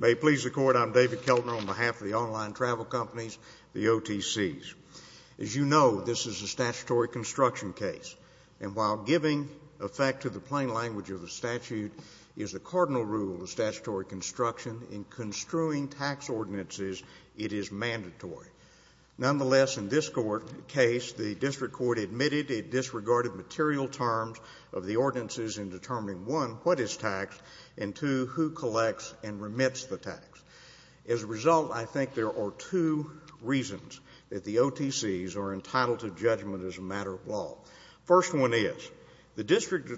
May it please the Court, I'm David Keltner on behalf of the online travel companies, the OTCs. As you know, this is a statutory construction case, and while giving effect to the plain language of the statute is a cardinal rule of statutory construction, in construing tax ordinances, it is mandatory. Nonetheless, in this case, the District Court admitted it disregarded material terms of the ordinances in determining, one, what is taxed, and two, who collects and remits the tax. As a result, I think there are two reasons that the OTCs are entitled to judgment as a matter of law. First one is, the District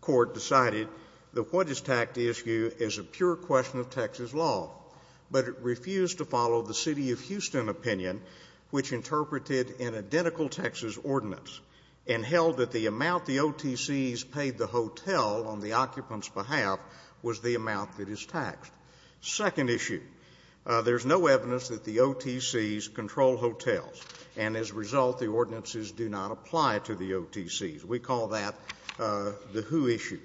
Court decided that what is taxed issue is a pure question of Texas law, but it refused to follow the City of Houston opinion, which interpreted an identical Texas ordinance, and held that the amount the OTCs paid the hotel on the occupant's behalf was the amount that is taxed. Second issue, there's no evidence that the OTCs control hotels, and as a result, the ordinances do not apply to the OTCs. We call that the who issue.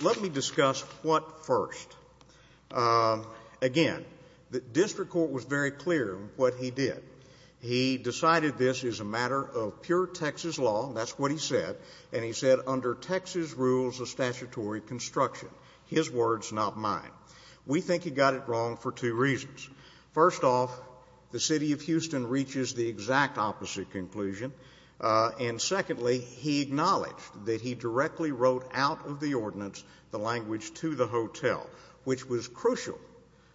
Let me discuss what first. Again, the District Court was very clear what he did. He decided this is a matter of pure Texas law, and that's what he said, and he said, under Texas rules of statutory construction. His words, not mine. We think he got it wrong for two reasons. First off, the City of Houston reaches the exact opposite conclusion, and secondly, he acknowledged that he directly wrote out of the ordinance the language to the hotel, which was crucial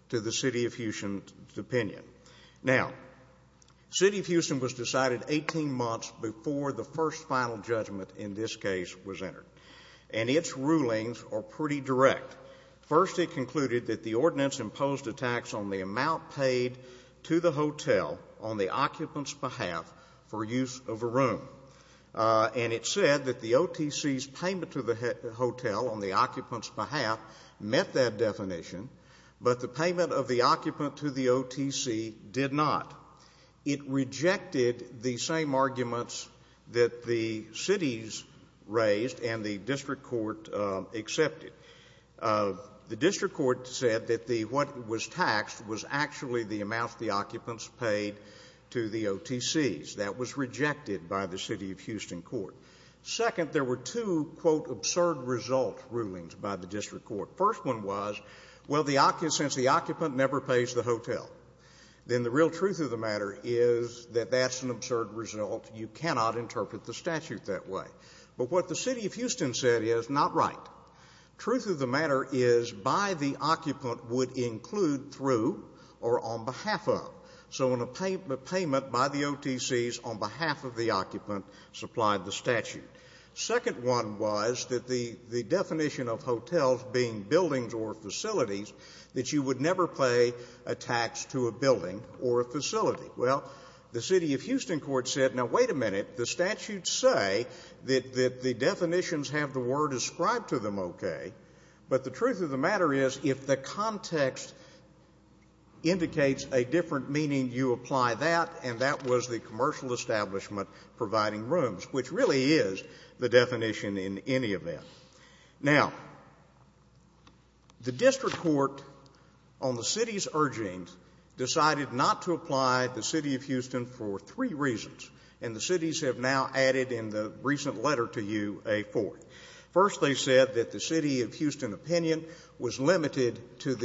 to the City of Houston's opinion. Now, City of Houston was decided 18 months before the first final judgment in this case was entered, and its rulings are pretty direct. First, it concluded that the ordinance imposed a tax on the amount paid to the hotel on the occupant's behalf for use of a room, and it said that the OTC's payment to the hotel on the occupant's behalf met that definition, but the payment of the occupant to the OTC did not. It rejected the same arguments that the cities raised and the District Court accepted. The District Court said that what was taxed was actually the amount the occupants paid to the OTCs. That was rejected by the City of Houston Court. Second, there were two, quote, absurd result rulings by the District Court. The first one was, well, since the occupant never pays the hotel, then the real truth of the matter is that that's an absurd result. You cannot interpret the statute that way. But what the City of Houston said is not right. Truth of the matter is by the occupant would include through or on behalf of, so a payment by the OTCs on behalf of the occupant supplied the statute. Second one was that the definition of hotels being buildings or facilities, that you would never pay a tax to a building or a facility. Well, the City of Houston Court said, now wait a minute, the statutes say that the definitions have the word ascribed to them okay, but the truth of the matter is if the context indicates a different meaning, you apply that, and that was the commercial establishment providing rooms, which really is the definition in any event. Now, the District Court, on the City's urging, decided not to apply the City of Houston for three reasons, and the Cities have now added in the recent letter to you a fourth. First, they said that the City of Houston opinion was limited to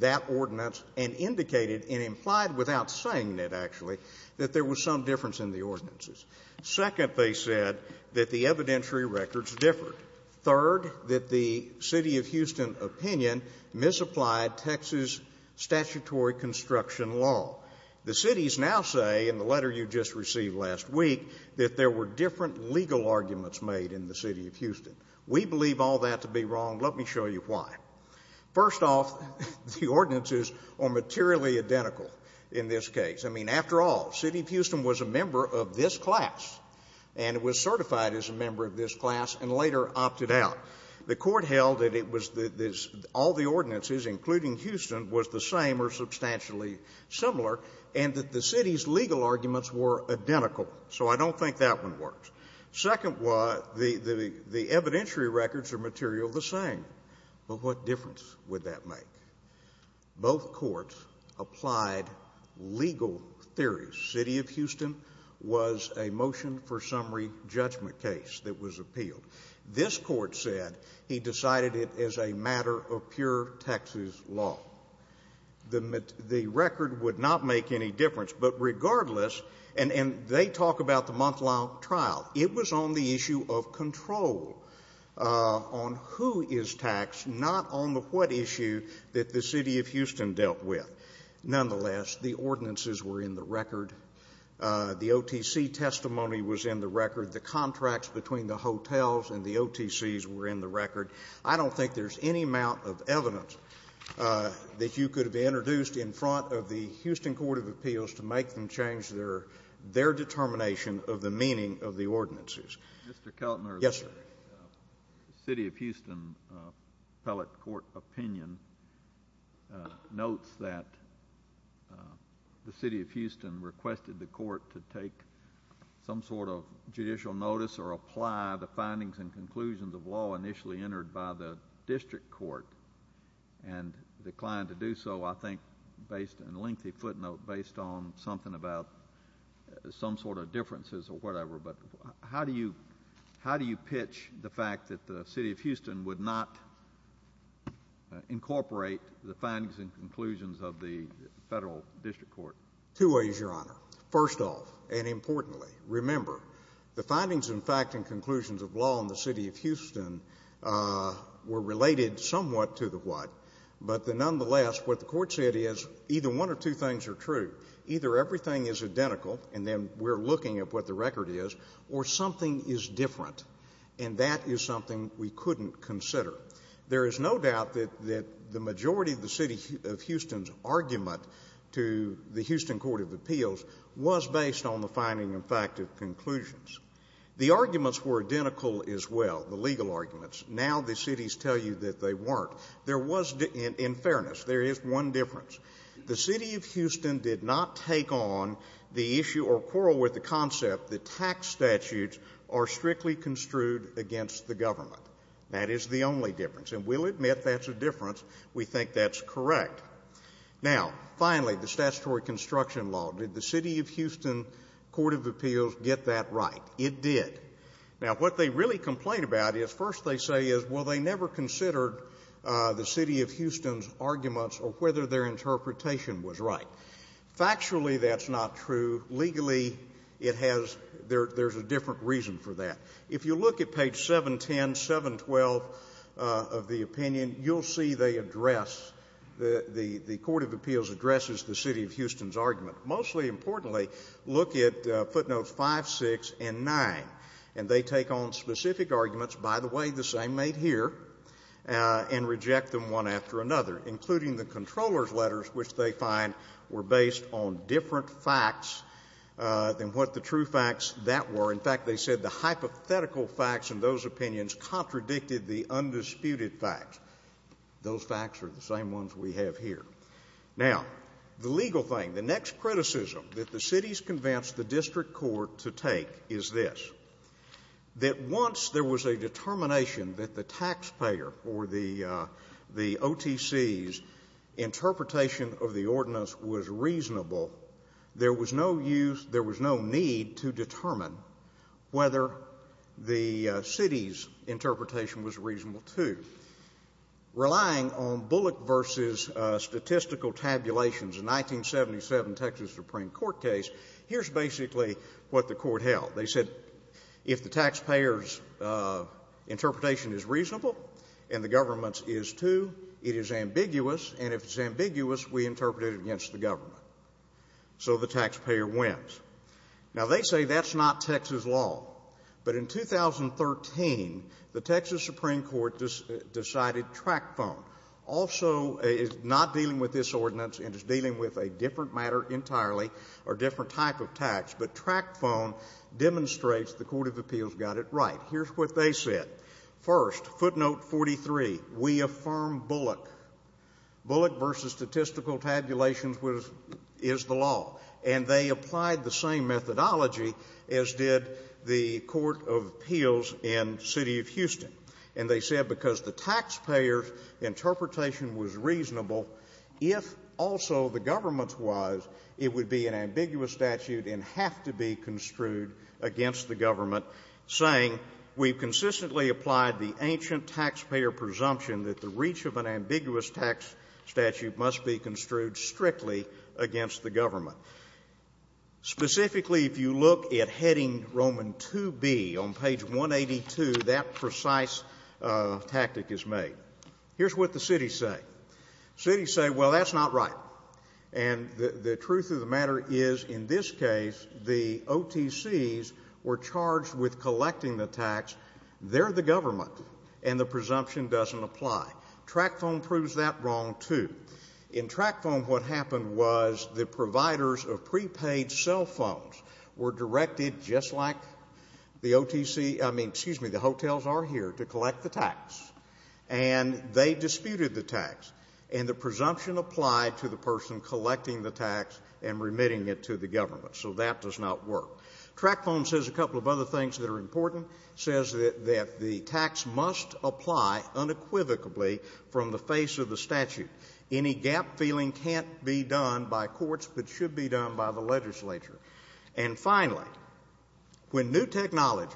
that ordinance and indicated and implied without saying it, actually, that there was some difference in the ordinances. Second, they said that the evidentiary records differed. Third, that the City of Houston opinion misapplied Texas statutory construction law. The Cities now say in the letter you just received last week that there were different legal arguments made in the City of Houston. We believe all that to be wrong. Let me show you why. First off, the ordinances are materially identical in this case. I mean, after all, City of Houston was a member of this class, and it was certified as a member of this class and later opted out. The Court held that all the ordinances, including Houston, was the same or substantially similar and that the City's legal arguments were identical. So I don't think that one works. Second, the evidentiary records are materially the same. But what difference would that make? Both courts applied legal theories. City of Houston was a motion for summary judgment case that was appealed. This court said he decided it as a matter of pure Texas law. The record would not make any difference. But regardless, and they talk about the month-long trial, it was on the issue of control on who is taxed, not on the what issue that the City of Houston dealt with. Nonetheless, the ordinances were in the record. The OTC testimony was in the record. The contracts between the hotels and the OTCs were in the record. I don't think there's any amount of evidence that you could have introduced in front of the Houston Court of Appeals to make them change their determination of the meaning of the ordinances. Mr. Keltner. Yes, sir. The City of Houston appellate court opinion notes that the City of Houston requested the court to take some sort of judicial notice or apply the findings and conclusions of law initially entered by the district court and declined to do so, I think, based on a lengthy footnote based on something about some sort of differences or whatever. But how do you pitch the fact that the City of Houston would not incorporate the findings and conclusions of the federal district court? Two ways, Your Honor. First off, and importantly, remember, the findings and fact and conclusions of law in the City of Houston were related somewhat to the what, but nonetheless, what the court said is either one or two things are true. Either everything is identical, and then we're looking at what the record is, or something is different, and that is something we couldn't consider. There is no doubt that the majority of the City of Houston's argument to the Houston Court of Appeals was based on the finding and fact of conclusions. The arguments were identical as well, the legal arguments. Now the cities tell you that they weren't. There was, in fairness, there is one difference. The City of Houston did not take on the issue or quarrel with the concept that tax statutes are strictly construed against the government. That is the only difference. And we'll admit that's a difference. We think that's correct. Now, finally, the statutory construction law, did the City of Houston Court of Appeals get that right? It did. Now, what they really complain about is, first they say is, well, they never considered the City of Houston's arguments or whether their interpretation was right. Factually, that's not true. Legally, there's a different reason for that. If you look at page 710, 712 of the opinion, you'll see the Court of Appeals addresses the City of Houston's argument. Mostly importantly, look at footnotes 5, 6, and 9, and they take on specific arguments, by the way, the same made here, and reject them one after another, including the comptroller's letters, which they find were based on different facts than what the true facts that were. In fact, they said the hypothetical facts in those opinions contradicted the undisputed facts. Those facts are the same ones we have here. Now, the legal thing, the next criticism that the city's convinced the district court to take is this, that once there was a determination that the taxpayer for the OTC's interpretation of the ordinance was reasonable, there was no need to determine whether the city's interpretation was reasonable too. Relying on Bullock v. Statistical Tabulations, a 1977 Texas Supreme Court case, here's basically what the court held. They said if the taxpayer's interpretation is reasonable and the government's is too, it is ambiguous, and if it's ambiguous, we interpret it against the government. So the taxpayer wins. Now, they say that's not Texas law, but in 2013, the Texas Supreme Court decided TRACFONE, also not dealing with this ordinance and just dealing with a different matter entirely, or different type of tax, but TRACFONE demonstrates the Court of Appeals got it right. Here's what they said. First, footnote 43, we affirm Bullock. Bullock v. Statistical Tabulations is the law. And they applied the same methodology as did the Court of Appeals in the city of Houston. And they said because the taxpayer's interpretation was reasonable, if also the government's was, it would be an ambiguous statute and have to be construed against the government, saying we've consistently applied the ancient taxpayer presumption that the reach of an ambiguous tax statute must be construed strictly against the government. Specifically, if you look at Heading Roman 2B on page 182, that precise tactic is made. Here's what the cities say. Cities say, well, that's not right. And the truth of the matter is, in this case, the OTCs were charged with collecting the tax. They're the government, and the presumption doesn't apply. TRACFONE proves that wrong, too. In TRACFONE, what happened was the providers of prepaid cell phones were directed, just like the OTC, I mean, excuse me, the hotels are here, to collect the tax. And they disputed the tax. And the presumption applied to the person collecting the tax and remitting it to the government. So that does not work. TRACFONE says a couple of other things that are important. It says that the tax must apply unequivocally from the face of the statute. Any gap-filling can't be done by courts but should be done by the legislature. And finally, when new technology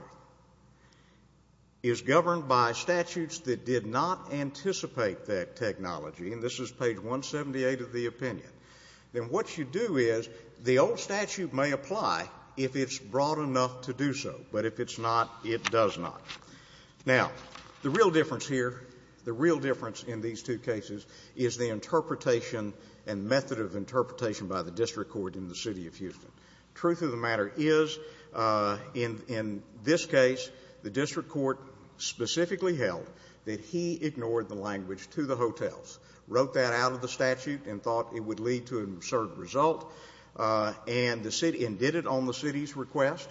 is governed by statutes that did not anticipate that technology, and this is page 178 of the opinion, then what you do is the old statute may apply if it's broad enough to do so. But if it's not, it does not. Now, the real difference here, the real difference in these two cases, is the interpretation and method of interpretation by the district court in the city of Houston. Truth of the matter is, in this case, the district court specifically held that he ignored the language to the hotels, wrote that out of the statute and thought it would lead to an absurd result, and did it on the city's request.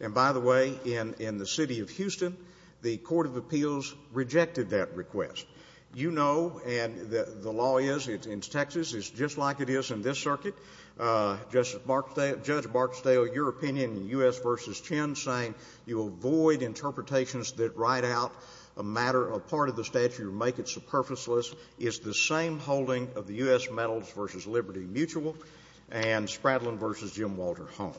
And, by the way, in the city of Houston, the court of appeals rejected that request. You know, and the law is, in Texas, it's just like it is in this circuit. Judge Barksdale, your opinion in U.S. v. Chin saying you avoid interpretations that write out a matter, a part of the statute or make it superfluous, is the same holding of the U.S. Medals v. Liberty Mutual and Spradlin v. Jim Walter Holmes.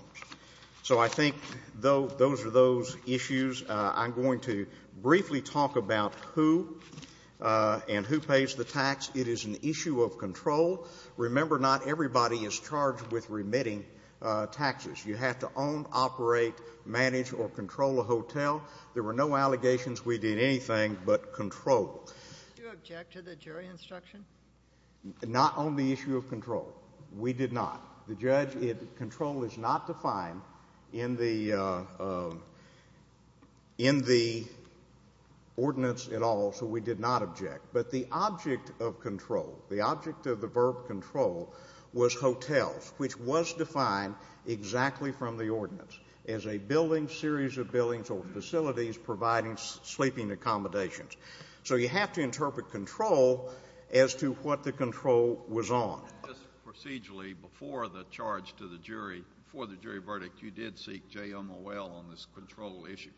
So I think those are those issues. I'm going to briefly talk about who and who pays the tax. It is an issue of control. Remember, not everybody is charged with remitting taxes. You have to own, operate, manage or control a hotel. There were no allegations. We did anything but control. Do you object to the jury instruction? Not on the issue of control. We did not. The judge, control is not defined in the ordinance at all, so we did not object. But the object of control, the object of the verb control, was hotels, which was defined exactly from the ordinance as a building, series of buildings or facilities providing sleeping accommodations. So you have to interpret control as to what the control was on. Just procedurally, before the charge to the jury, before the jury verdict, you did seek JMOL on this control issue.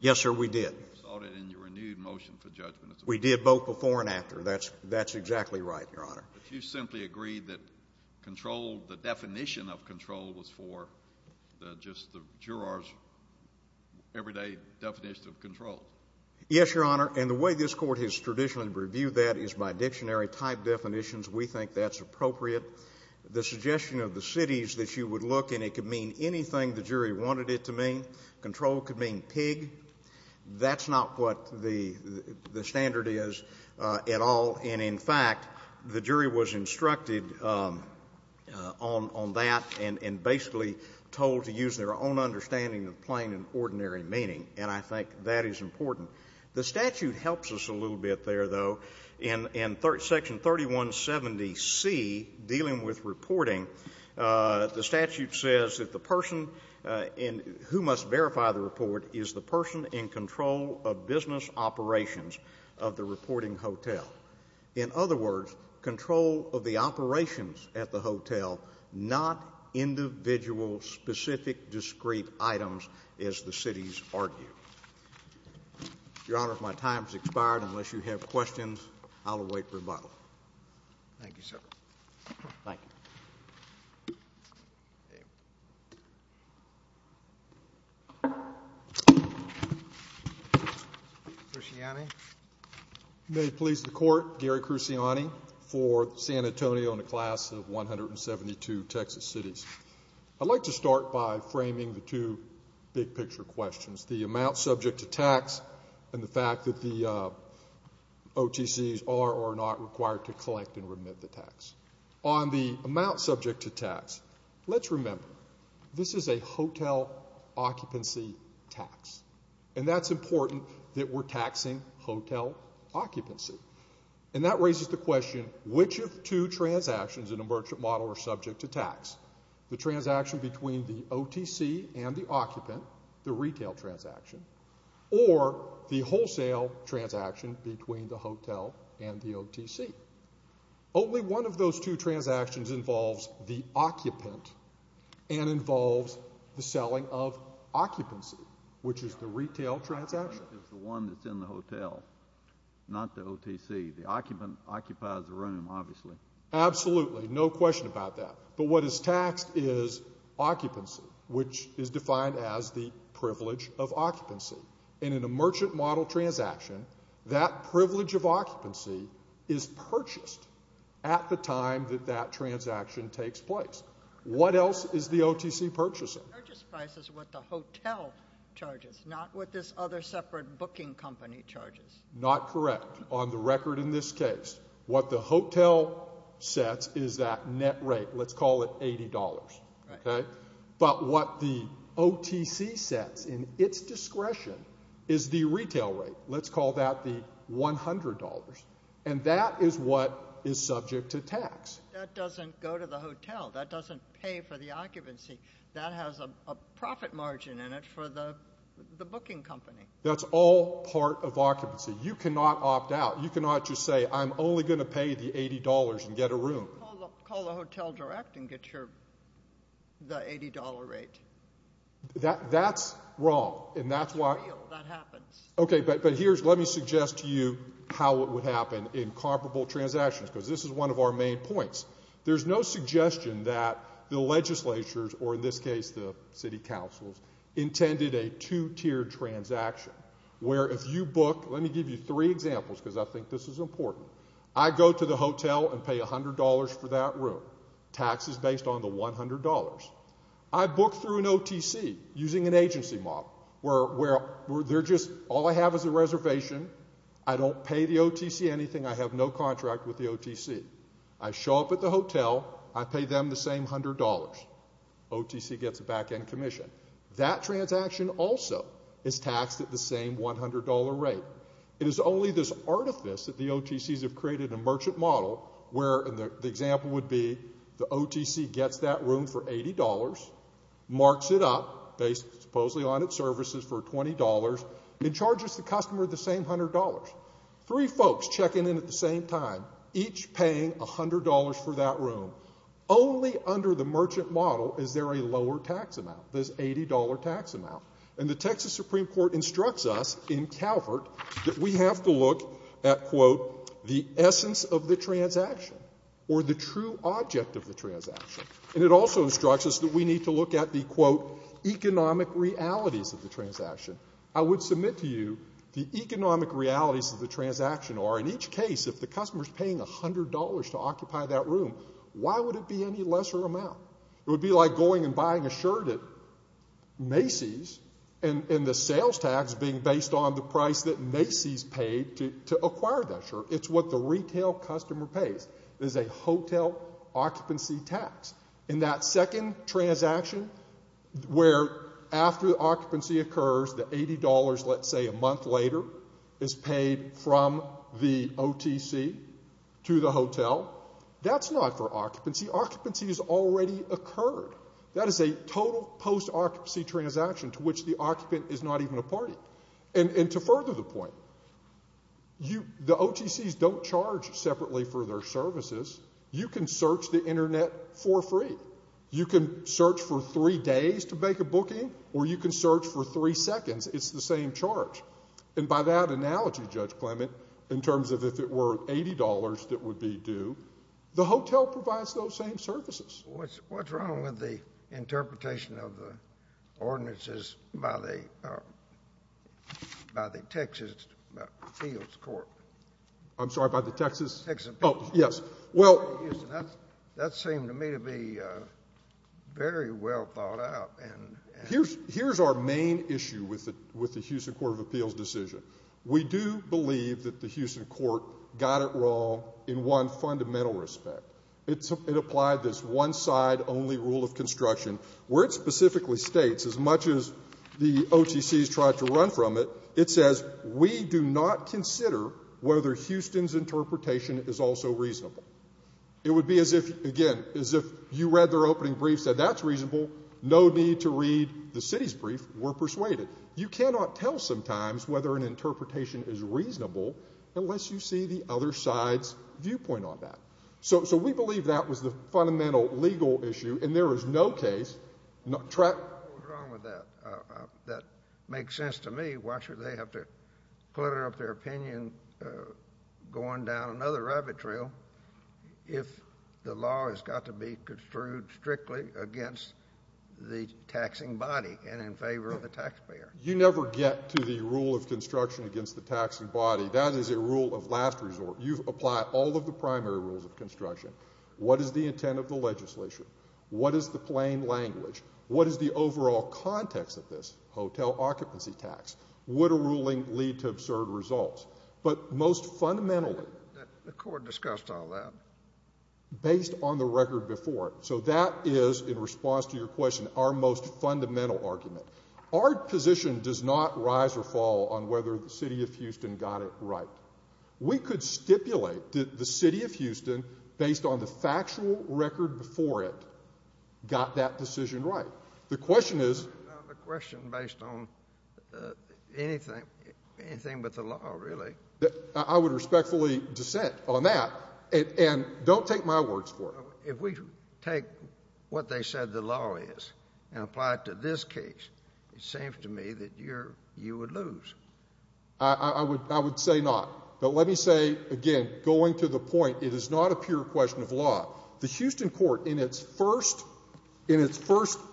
Yes, sir, we did. You sought it in your renewed motion for judgment. We did both before and after. That's exactly right, Your Honor. But you simply agreed that control, the definition of control, was for just the juror's everyday definition of control. Yes, Your Honor, and the way this court has traditionally reviewed that is by dictionary-type definitions. We think that's appropriate. The suggestion of the cities that you would look, and it could mean anything the jury wanted it to mean. Control could mean pig. That's not what the standard is at all. And, in fact, the jury was instructed on that and basically told to use their own understanding of plain and ordinary meaning, and I think that is important. The statute helps us a little bit there, though. In Section 3170C, dealing with reporting, the statute says that the person who must verify the report is the person in control of business operations of the reporting hotel. In other words, control of the operations at the hotel, not individual specific discrete items, as the cities argue. Your Honor, my time has expired. Unless you have questions, I'll await rebuttal. Thank you, sir. Thank you. Cruciani. May it please the Court, Gary Cruciani for San Antonio and the class of 172 Texas cities. I'd like to start by framing the two big-picture questions. The amount subject to tax and the fact that the OTCs are or are not required to collect and remit the tax. On the amount subject to tax, let's remember this is a hotel occupancy tax, and that's important that we're taxing hotel occupancy. And that raises the question, which of two transactions in a merchant model are subject to tax? The transaction between the OTC and the occupant, the retail transaction, or the wholesale transaction between the hotel and the OTC? Only one of those two transactions involves the occupant and involves the selling of occupancy, which is the retail transaction. The one that's in the hotel, not the OTC. The occupant occupies the room, obviously. Absolutely, no question about that. But what is taxed is occupancy, which is defined as the privilege of occupancy. And in a merchant model transaction, that privilege of occupancy is purchased at the time that that transaction takes place. What else is the OTC purchasing? The purchase price is what the hotel charges, not what this other separate booking company charges. Not correct. On the record in this case, what the hotel sets is that net rate. Let's call it $80. But what the OTC sets in its discretion is the retail rate. Let's call that the $100. And that is what is subject to tax. That doesn't go to the hotel. That doesn't pay for the occupancy. That has a profit margin in it for the booking company. That's all part of occupancy. You cannot opt out. You cannot just say I'm only going to pay the $80 and get a room. Call the hotel direct and get the $80 rate. That's wrong. That's real. That happens. Okay, but let me suggest to you how it would happen in comparable transactions, because this is one of our main points. There's no suggestion that the legislatures, or in this case the city councils, intended a two-tiered transaction where if you book, let me give you three examples, because I think this is important. I go to the hotel and pay $100 for that room. Tax is based on the $100. I book through an OTC using an agency model where all I have is a reservation. I don't pay the OTC anything. I have no contract with the OTC. I show up at the hotel. I pay them the same $100. OTC gets a back-end commission. That transaction also is taxed at the same $100 rate. It is only this artifice that the OTCs have created a merchant model where the example would be the OTC gets that room for $80, marks it up based supposedly on its services for $20, and charges the customer the same $100. Three folks checking in at the same time, each paying $100 for that room. Only under the merchant model is there a lower tax amount, this $80 tax amount. And the Texas Supreme Court instructs us in Calvert that we have to look at, quote, the essence of the transaction or the true object of the transaction. And it also instructs us that we need to look at the, quote, economic realities of the transaction. I would submit to you the economic realities of the transaction are, in each case if the customer is paying $100 to occupy that room, why would it be any lesser amount? It would be like going and buying a shirt at Macy's, and the sales tax being based on the price that Macy's paid to acquire that shirt. It's what the retail customer pays. It is a hotel occupancy tax. And that second transaction where after the occupancy occurs, the $80 let's say a month later is paid from the OTC to the hotel, that's not for occupancy. Occupancy has already occurred. That is a total post-occupancy transaction to which the occupant is not even a party. And to further the point, the OTCs don't charge separately for their services. You can search the Internet for free. You can search for three days to make a booking, or you can search for three seconds. It's the same charge. And by that analogy, Judge Clement, in terms of if it were $80 that would be due, the hotel provides those same services. What's wrong with the interpretation of the ordinances by the Texas appeals court? I'm sorry, by the Texas? Texas appeals court. Oh, yes. Well. That seemed to me to be very well thought out. Here's our main issue with the Houston Court of Appeals decision. We do believe that the Houston court got it wrong in one fundamental respect. It applied this one-side only rule of construction where it specifically states, as much as the OTCs tried to run from it, it says we do not consider whether Houston's interpretation is also reasonable. It would be as if, again, as if you read their opening brief, said that's reasonable, no need to read the city's brief, we're persuaded. You cannot tell sometimes whether an interpretation is reasonable unless you see the other side's viewpoint on that. So we believe that was the fundamental legal issue, and there is no case. What's wrong with that? That makes sense to me. Why should they have to clutter up their opinion going down another rabbit trail if the law has got to be construed strictly against the taxing body and in favor of the taxpayer? You never get to the rule of construction against the taxing body. That is a rule of last resort. You've applied all of the primary rules of construction. What is the intent of the legislation? What is the plain language? What is the overall context of this hotel occupancy tax? Would a ruling lead to absurd results? But most fundamentally, the court discussed all that based on the record before it. So that is, in response to your question, our most fundamental argument. Our position does not rise or fall on whether the city of Houston got it right. We could stipulate that the city of Houston, based on the factual record before it, got that decision right. The question is— It's not a question based on anything but the law, really. I would respectfully dissent on that, and don't take my words for it. If we take what they said the law is and apply it to this case, it seems to me that you would lose. I would say not. But let me say, again, going to the point, it is not a pure question of law. The Houston court, in its first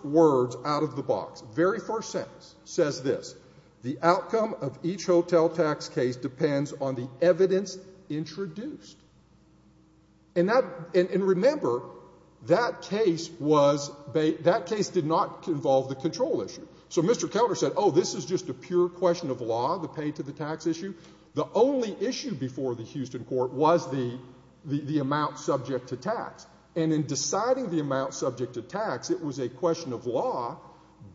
words out of the box, very first sentence, says this. The outcome of each hotel tax case depends on the evidence introduced. And remember, that case did not involve the control issue. So Mr. Counter said, oh, this is just a pure question of law, the pay to the tax issue. The only issue before the Houston court was the amount subject to tax. And in deciding the amount subject to tax, it was a question of law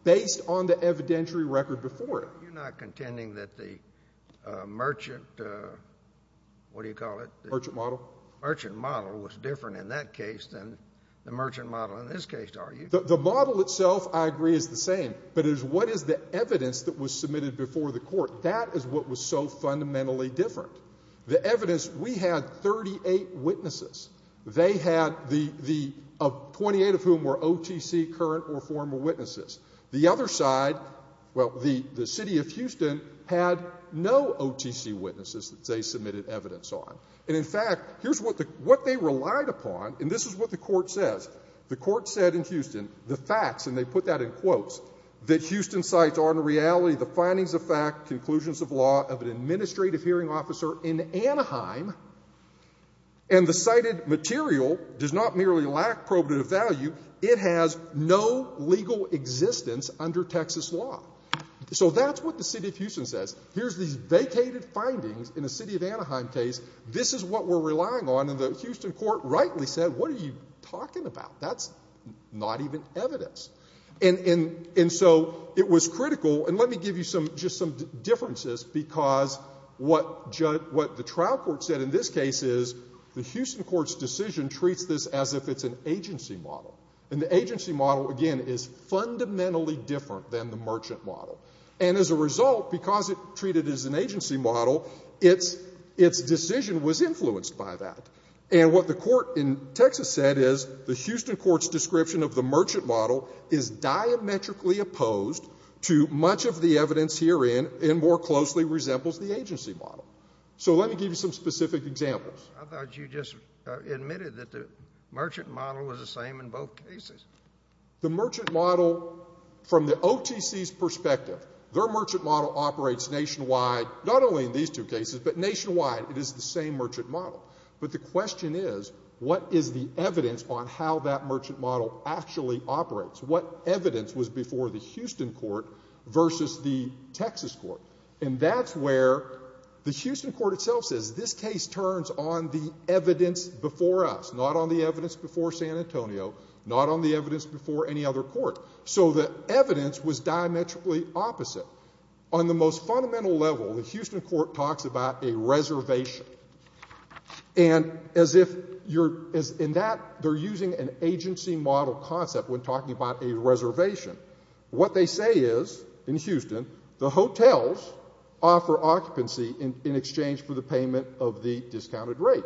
based on the evidentiary record before it. You're not contending that the merchant—what do you call it? Merchant model. Merchant model was different in that case than the merchant model in this case, are you? The model itself, I agree, is the same, but it is what is the evidence that was submitted before the court. That is what was so fundamentally different. The evidence, we had 38 witnesses. They had the 28 of whom were OTC current or former witnesses. The other side, well, the city of Houston had no OTC witnesses that they submitted evidence on. And in fact, here's what they relied upon, and this is what the court says. The court said in Houston, the facts, and they put that in quotes, that Houston cites are in reality the findings of fact, conclusions of law of an administrative hearing officer in Anaheim, and the cited material does not merely lack probative value. It has no legal existence under Texas law. So that's what the city of Houston says. Here's these vacated findings in a city of Anaheim case. This is what we're relying on. And the Houston court rightly said, what are you talking about? That's not even evidence. And so it was critical. And let me give you just some differences, because what the trial court said in this case is the Houston court's decision treats this as if it's an agency model. And the agency model, again, is fundamentally different than the merchant model. And as a result, because it's treated as an agency model, its decision was influenced by that. And what the court in Texas said is the Houston court's description of the merchant model is diametrically opposed to much of the evidence herein, and more closely resembles the agency model. So let me give you some specific examples. I thought you just admitted that the merchant model was the same in both cases. The merchant model, from the OTC's perspective, their merchant model operates nationwide, not only in these two cases, but nationwide. It is the same merchant model. But the question is, what is the evidence on how that merchant model actually operates? What evidence was before the Houston court versus the Texas court? And that's where the Houston court itself says this case turns on the evidence before us, not on the evidence before San Antonio, not on the evidence before any other court. So the evidence was diametrically opposite. On the most fundamental level, the Houston court talks about a reservation. And as if you're in that, they're using an agency model concept when talking about a reservation. What they say is, in Houston, the hotels offer occupancy in exchange for the payment of the discounted rate.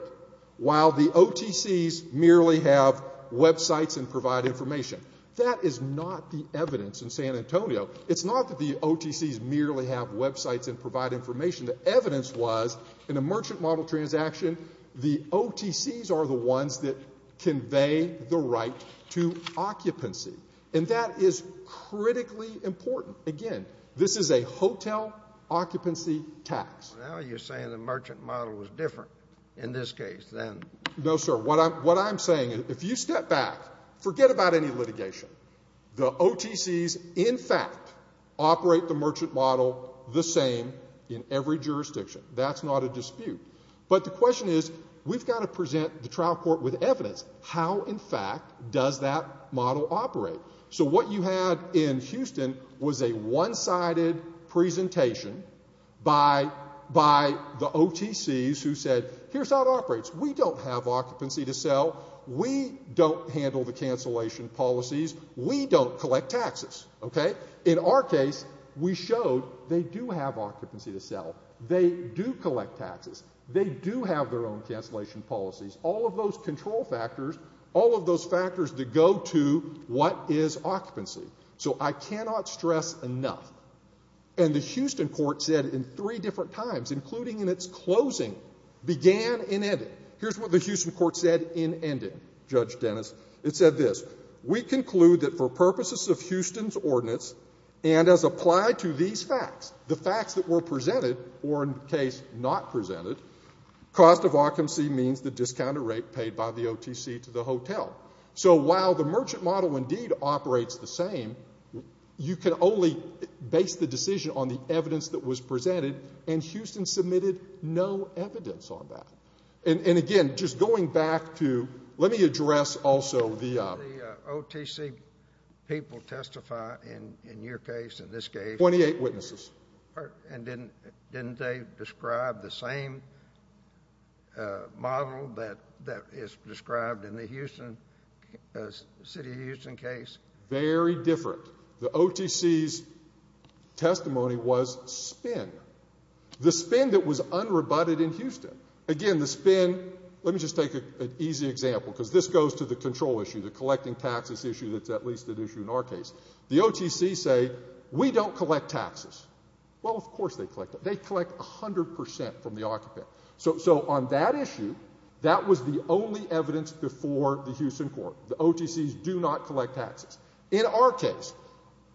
While the OTCs merely have websites and provide information. That is not the evidence in San Antonio. It's not that the OTCs merely have websites and provide information. The evidence was, in a merchant model transaction, the OTCs are the ones that convey the right to occupancy. And that is critically important. Again, this is a hotel occupancy tax. Now you're saying the merchant model was different in this case than. No, sir. What I'm saying, if you step back, forget about any litigation. The OTCs, in fact, operate the merchant model the same in every jurisdiction. That's not a dispute. But the question is, we've got to present the trial court with evidence. How, in fact, does that model operate? So what you had in Houston was a one-sided presentation by the OTCs who said, here's how it operates. We don't have occupancy to sell. We don't handle the cancellation policies. We don't collect taxes. Okay? In our case, we showed they do have occupancy to sell. They do collect taxes. They do have their own cancellation policies. All of those control factors, all of those factors that go to what is occupancy. So I cannot stress enough. And the Houston court said in three different times, including in its closing, began and ended. Here's what the Houston court said in ending, Judge Dennis. It said this. And, again, just going back to let me address also the OTC case. People testify in your case, in this case. Twenty-eight witnesses. And didn't they describe the same model that is described in the city of Houston case? Very different. The OTC's testimony was spin. The spin that was unrebutted in Houston. Again, the spin, let me just take an easy example, because this goes to the control issue, the collecting taxes issue that's at least an issue in our case. The OTC say, we don't collect taxes. Well, of course they collect them. They collect 100% from the occupant. So on that issue, that was the only evidence before the Houston court. The OTCs do not collect taxes. In our case,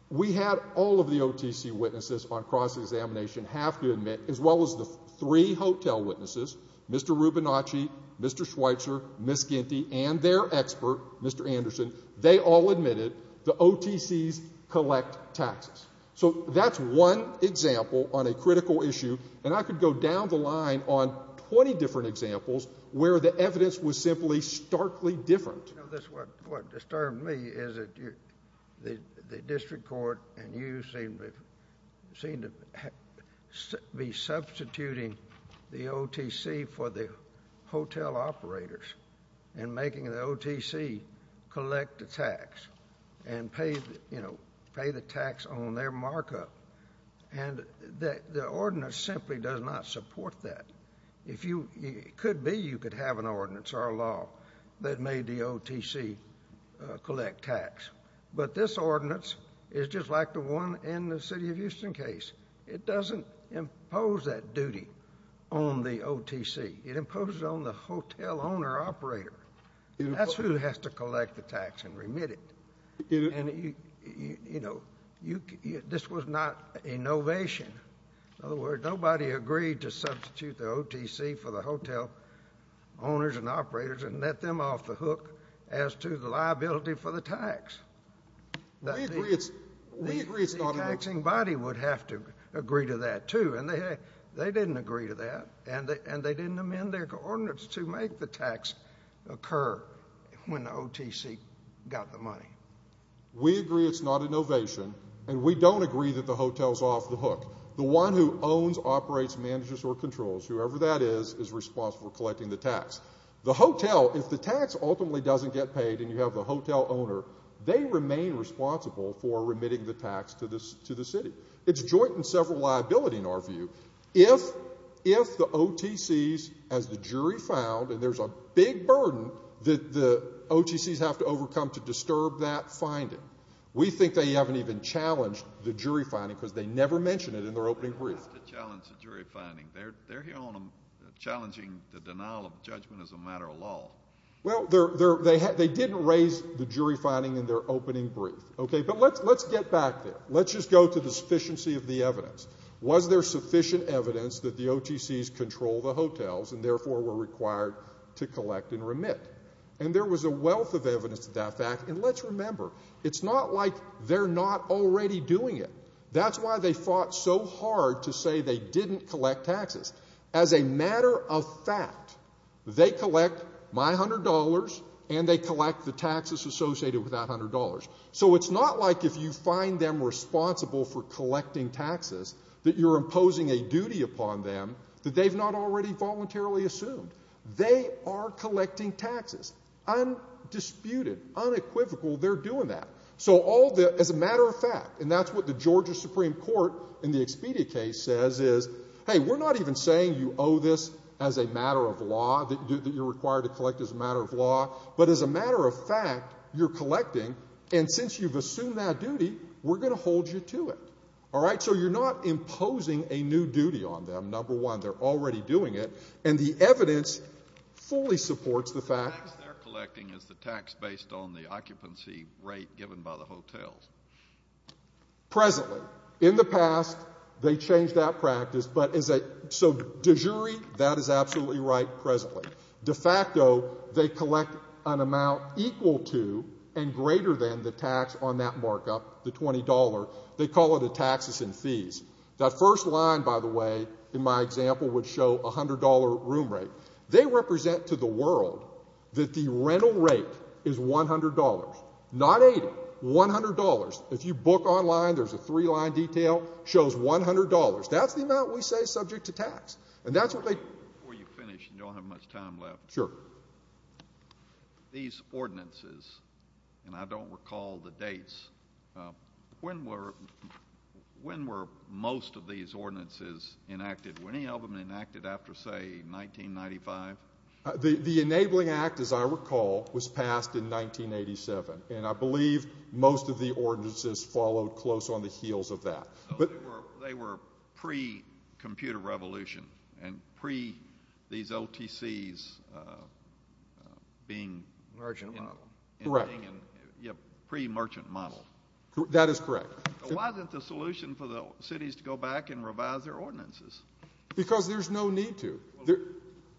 we had all of the OTC witnesses on cross-examination have to admit, as well as the three hotel witnesses, Mr. Rubinacci, Mr. Schweitzer, Miss Ginty, and their expert, Mr. Anderson, they all admitted the OTCs collect taxes. So that's one example on a critical issue. And I could go down the line on 20 different examples where the evidence was simply starkly different. What disturbed me is that the district court and you seem to be substituting the OTC for the hotel operators and making the OTC collect the tax and pay the tax on their markup. And the ordinance simply does not support that. It could be you could have an ordinance or a law that made the OTC collect tax. But this ordinance is just like the one in the city of Houston case. It doesn't impose that duty on the OTC. It imposes it on the hotel owner operator. That's who has to collect the tax and remit it. And, you know, this was not a novation. In other words, nobody agreed to substitute the OTC for the hotel owners and operators and let them off the hook as to the liability for the tax. We agree it's not a novation. The taxing body would have to agree to that, too. And they didn't agree to that. And they didn't amend their ordinance to make the tax occur when the OTC got the money. We agree it's not a novation. And we don't agree that the hotel's off the hook. The one who owns, operates, manages, or controls, whoever that is, is responsible for collecting the tax. The hotel, if the tax ultimately doesn't get paid and you have the hotel owner, they remain responsible for remitting the tax to the city. It's joint and several liability in our view. If the OTCs, as the jury found, and there's a big burden that the OTCs have to overcome to disturb that finding, we think they haven't even challenged the jury finding because they never mention it in their opening brief. They don't have to challenge the jury finding. They're here on challenging the denial of judgment as a matter of law. Well, they didn't raise the jury finding in their opening brief. Okay, but let's get back there. Let's just go to the sufficiency of the evidence. Was there sufficient evidence that the OTCs control the hotels and, therefore, were required to collect and remit? And there was a wealth of evidence to that fact. And let's remember, it's not like they're not already doing it. That's why they fought so hard to say they didn't collect taxes. As a matter of fact, they collect my $100 and they collect the taxes associated with that $100. So it's not like if you find them responsible for collecting taxes that you're imposing a duty upon them that they've not already voluntarily assumed. They are collecting taxes. Undisputed, unequivocal, they're doing that. So as a matter of fact, and that's what the Georgia Supreme Court in the Expedia case says is, hey, we're not even saying you owe this as a matter of law, that you're required to collect as a matter of law, but as a matter of fact, you're collecting, and since you've assumed that duty, we're going to hold you to it. All right? So you're not imposing a new duty on them, number one. They're already doing it. And the evidence fully supports the fact that they're collecting as the tax based on the occupancy rate given by the hotels. Presently. In the past, they changed that practice. So de jure, that is absolutely right presently. De facto, they collect an amount equal to and greater than the tax on that markup, the $20. They call it a taxes and fees. That first line, by the way, in my example, would show $100 room rate. They represent to the world that the rental rate is $100. Not $80. $100. If you book online, there's a three line detail. Shows $100. That's the amount we say is subject to tax. And that's what they do. Before you finish and don't have much time left. Sure. These ordinances, and I don't recall the dates, when were most of these ordinances enacted? Were any of them enacted after, say, 1995? The enabling act, as I recall, was passed in 1987. And I believe most of the ordinances followed close on the heels of that. They were pre-computer revolution and pre-these OTCs being pre-merchant model. That is correct. Why isn't the solution for the cities to go back and revise their ordinances? Because there's no need to.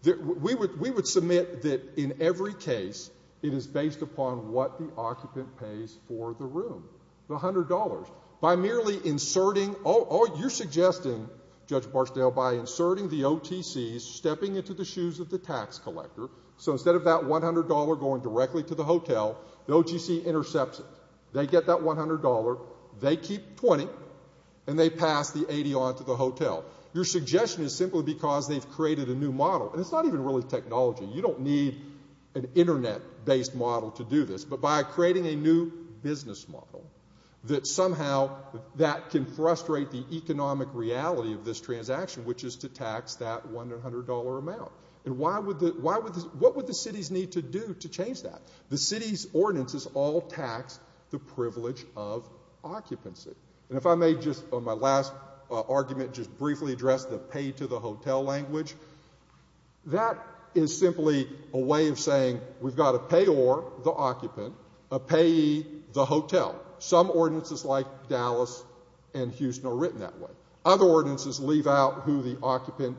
We would submit that in every case it is based upon what the occupant pays for the room, the $100. By merely inserting, oh, you're suggesting, Judge Barksdale, by inserting the OTCs, stepping into the shoes of the tax collector. So instead of that $100 going directly to the hotel, the OTC intercepts it. They get that $100. They keep $20. And they pass the $80 on to the hotel. Your suggestion is simply because they've created a new model. And it's not even really technology. You don't need an internet-based model to do this. But by creating a new business model that somehow that can frustrate the economic reality of this transaction, which is to tax that $100 amount. And what would the cities need to do to change that? The cities' ordinances all tax the privilege of occupancy. And if I may just on my last argument just briefly address the pay to the hotel language, that is simply a way of saying we've got a payor, the occupant, a payee, the hotel. Some ordinances like Dallas and Houston are written that way. Other ordinances leave out who the occupant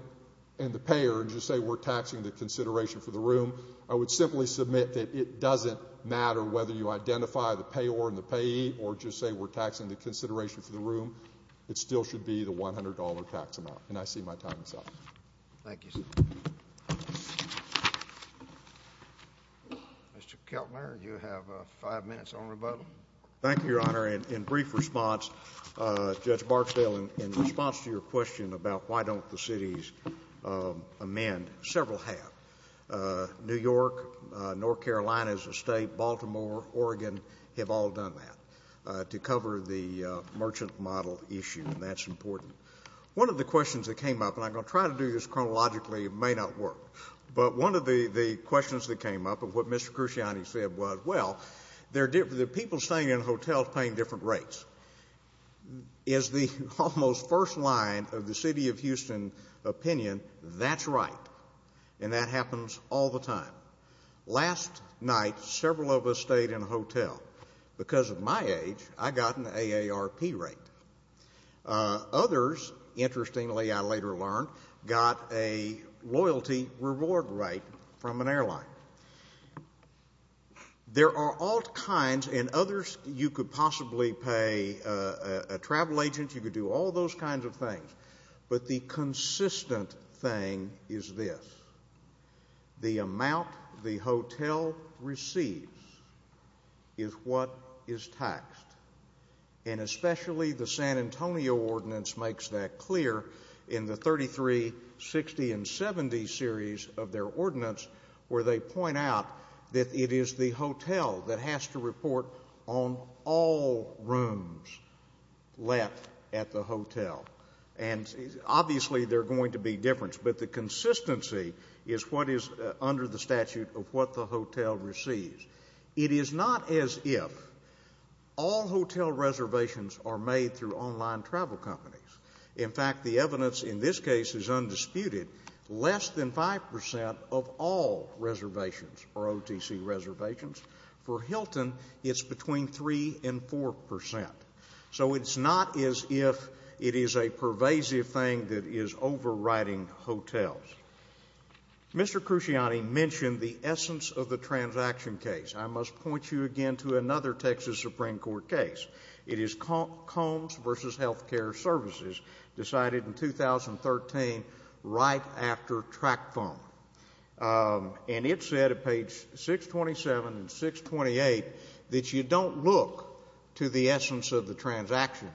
and the payer and just say we're taxing the consideration for the room. I would simply submit that it doesn't matter whether you identify the payor and the payee or just say we're taxing the consideration for the room. It still should be the $100 tax amount. And I see my time is up. Thank you, sir. Mr. Keltner, you have five minutes on rebuttal. Thank you, Your Honor. In brief response, Judge Barksdale, in response to your question about why don't the cities amend, several have. New York, North Carolina as a state, Baltimore, Oregon have all done that to cover the merchant model issue, and that's important. One of the questions that came up, and I'm going to try to do this chronologically. It may not work. But one of the questions that came up of what Mr. Cruciani said was, well, the people staying in hotels paying different rates. As the almost first line of the city of Houston opinion, that's right, and that happens all the time. Last night, several of us stayed in a hotel. Because of my age, I got an AARP rate. Others, interestingly, I later learned, got a loyalty reward rate from an airline. There are all kinds, and others, you could possibly pay a travel agent, you could do all those kinds of things. But the consistent thing is this. The amount the hotel receives is what is taxed. And especially the San Antonio ordinance makes that clear in the 33, 60, and 70 series of their ordinance, where they point out that it is the hotel that has to report on all rooms left at the hotel. And obviously there are going to be differences, but the consistency is what is under the statute of what the hotel receives. It is not as if all hotel reservations are made through online travel companies. In fact, the evidence in this case is undisputed. Less than 5 percent of all reservations are OTC reservations. For Hilton, it's between 3 and 4 percent. So it's not as if it is a pervasive thing that is overriding hotels. Mr. Cruciani mentioned the essence of the transaction case. I must point you again to another Texas Supreme Court case. It is Combs v. Healthcare Services, decided in 2013 right after track phone. And it said at page 627 and 628 that you don't look to the essence of the transaction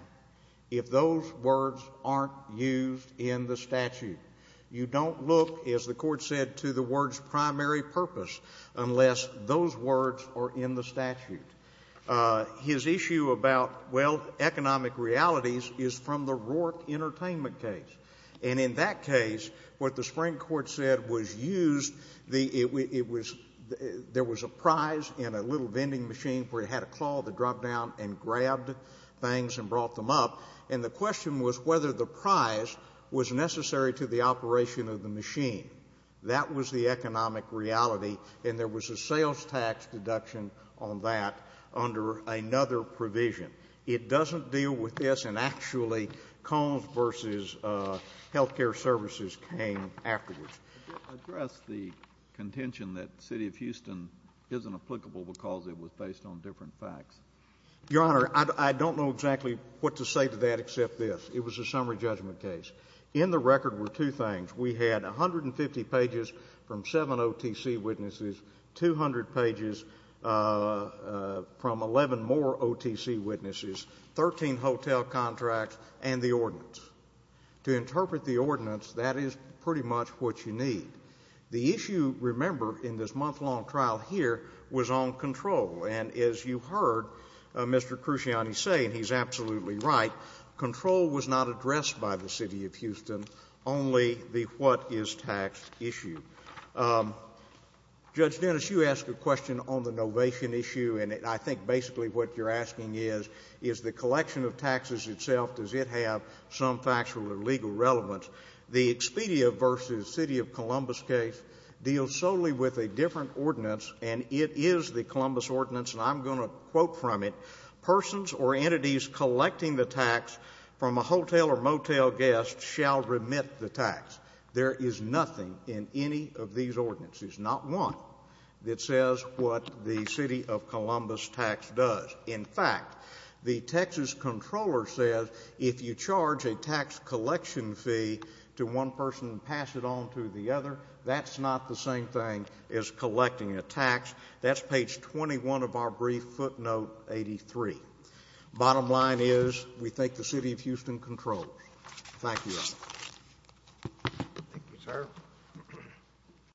if those words aren't used in the statute. You don't look, as the Court said, to the words primary purpose unless those words are in the statute. His issue about, well, economic realities is from the Rourke Entertainment case. And in that case, what the Supreme Court said was used, there was a prize in a little vending machine where it had a claw to drop down and grab things and brought them up. And the question was whether the prize was necessary to the operation of the machine. That was the economic reality, and there was a sales tax deduction on that under another provision. It doesn't deal with this, and actually Combs v. Healthcare Services came afterwards. Could you address the contention that the city of Houston isn't applicable because it was based on different facts? Your Honor, I don't know exactly what to say to that except this. It was a summary judgment case. In the record were two things. We had 150 pages from seven OTC witnesses, 200 pages from 11 more OTC witnesses, 13 hotel contracts, and the ordinance. To interpret the ordinance, that is pretty much what you need. The issue, remember, in this month-long trial here was on control. And as you heard Mr. Cruciani say, and he's absolutely right, control was not addressed by the city of Houston, only the what-is-tax issue. Judge Dennis, you asked a question on the novation issue, and I think basically what you're asking is, is the collection of taxes itself, does it have some factual or legal relevance? The Expedia v. City of Columbus case deals solely with a different ordinance, and it is the Columbus ordinance, and I'm going to quote from it. Persons or entities collecting the tax from a hotel or motel guest shall remit the tax. There is nothing in any of these ordinances, not one, that says what the City of Columbus tax does. In fact, the Texas Comptroller says if you charge a tax collection fee to one person and pass it on to the other, that's not the same thing as collecting a tax. That's page 21 of our brief footnote 83. Bottom line is, we thank the City of Houston Comptroller. Thank you. Thank you, sir.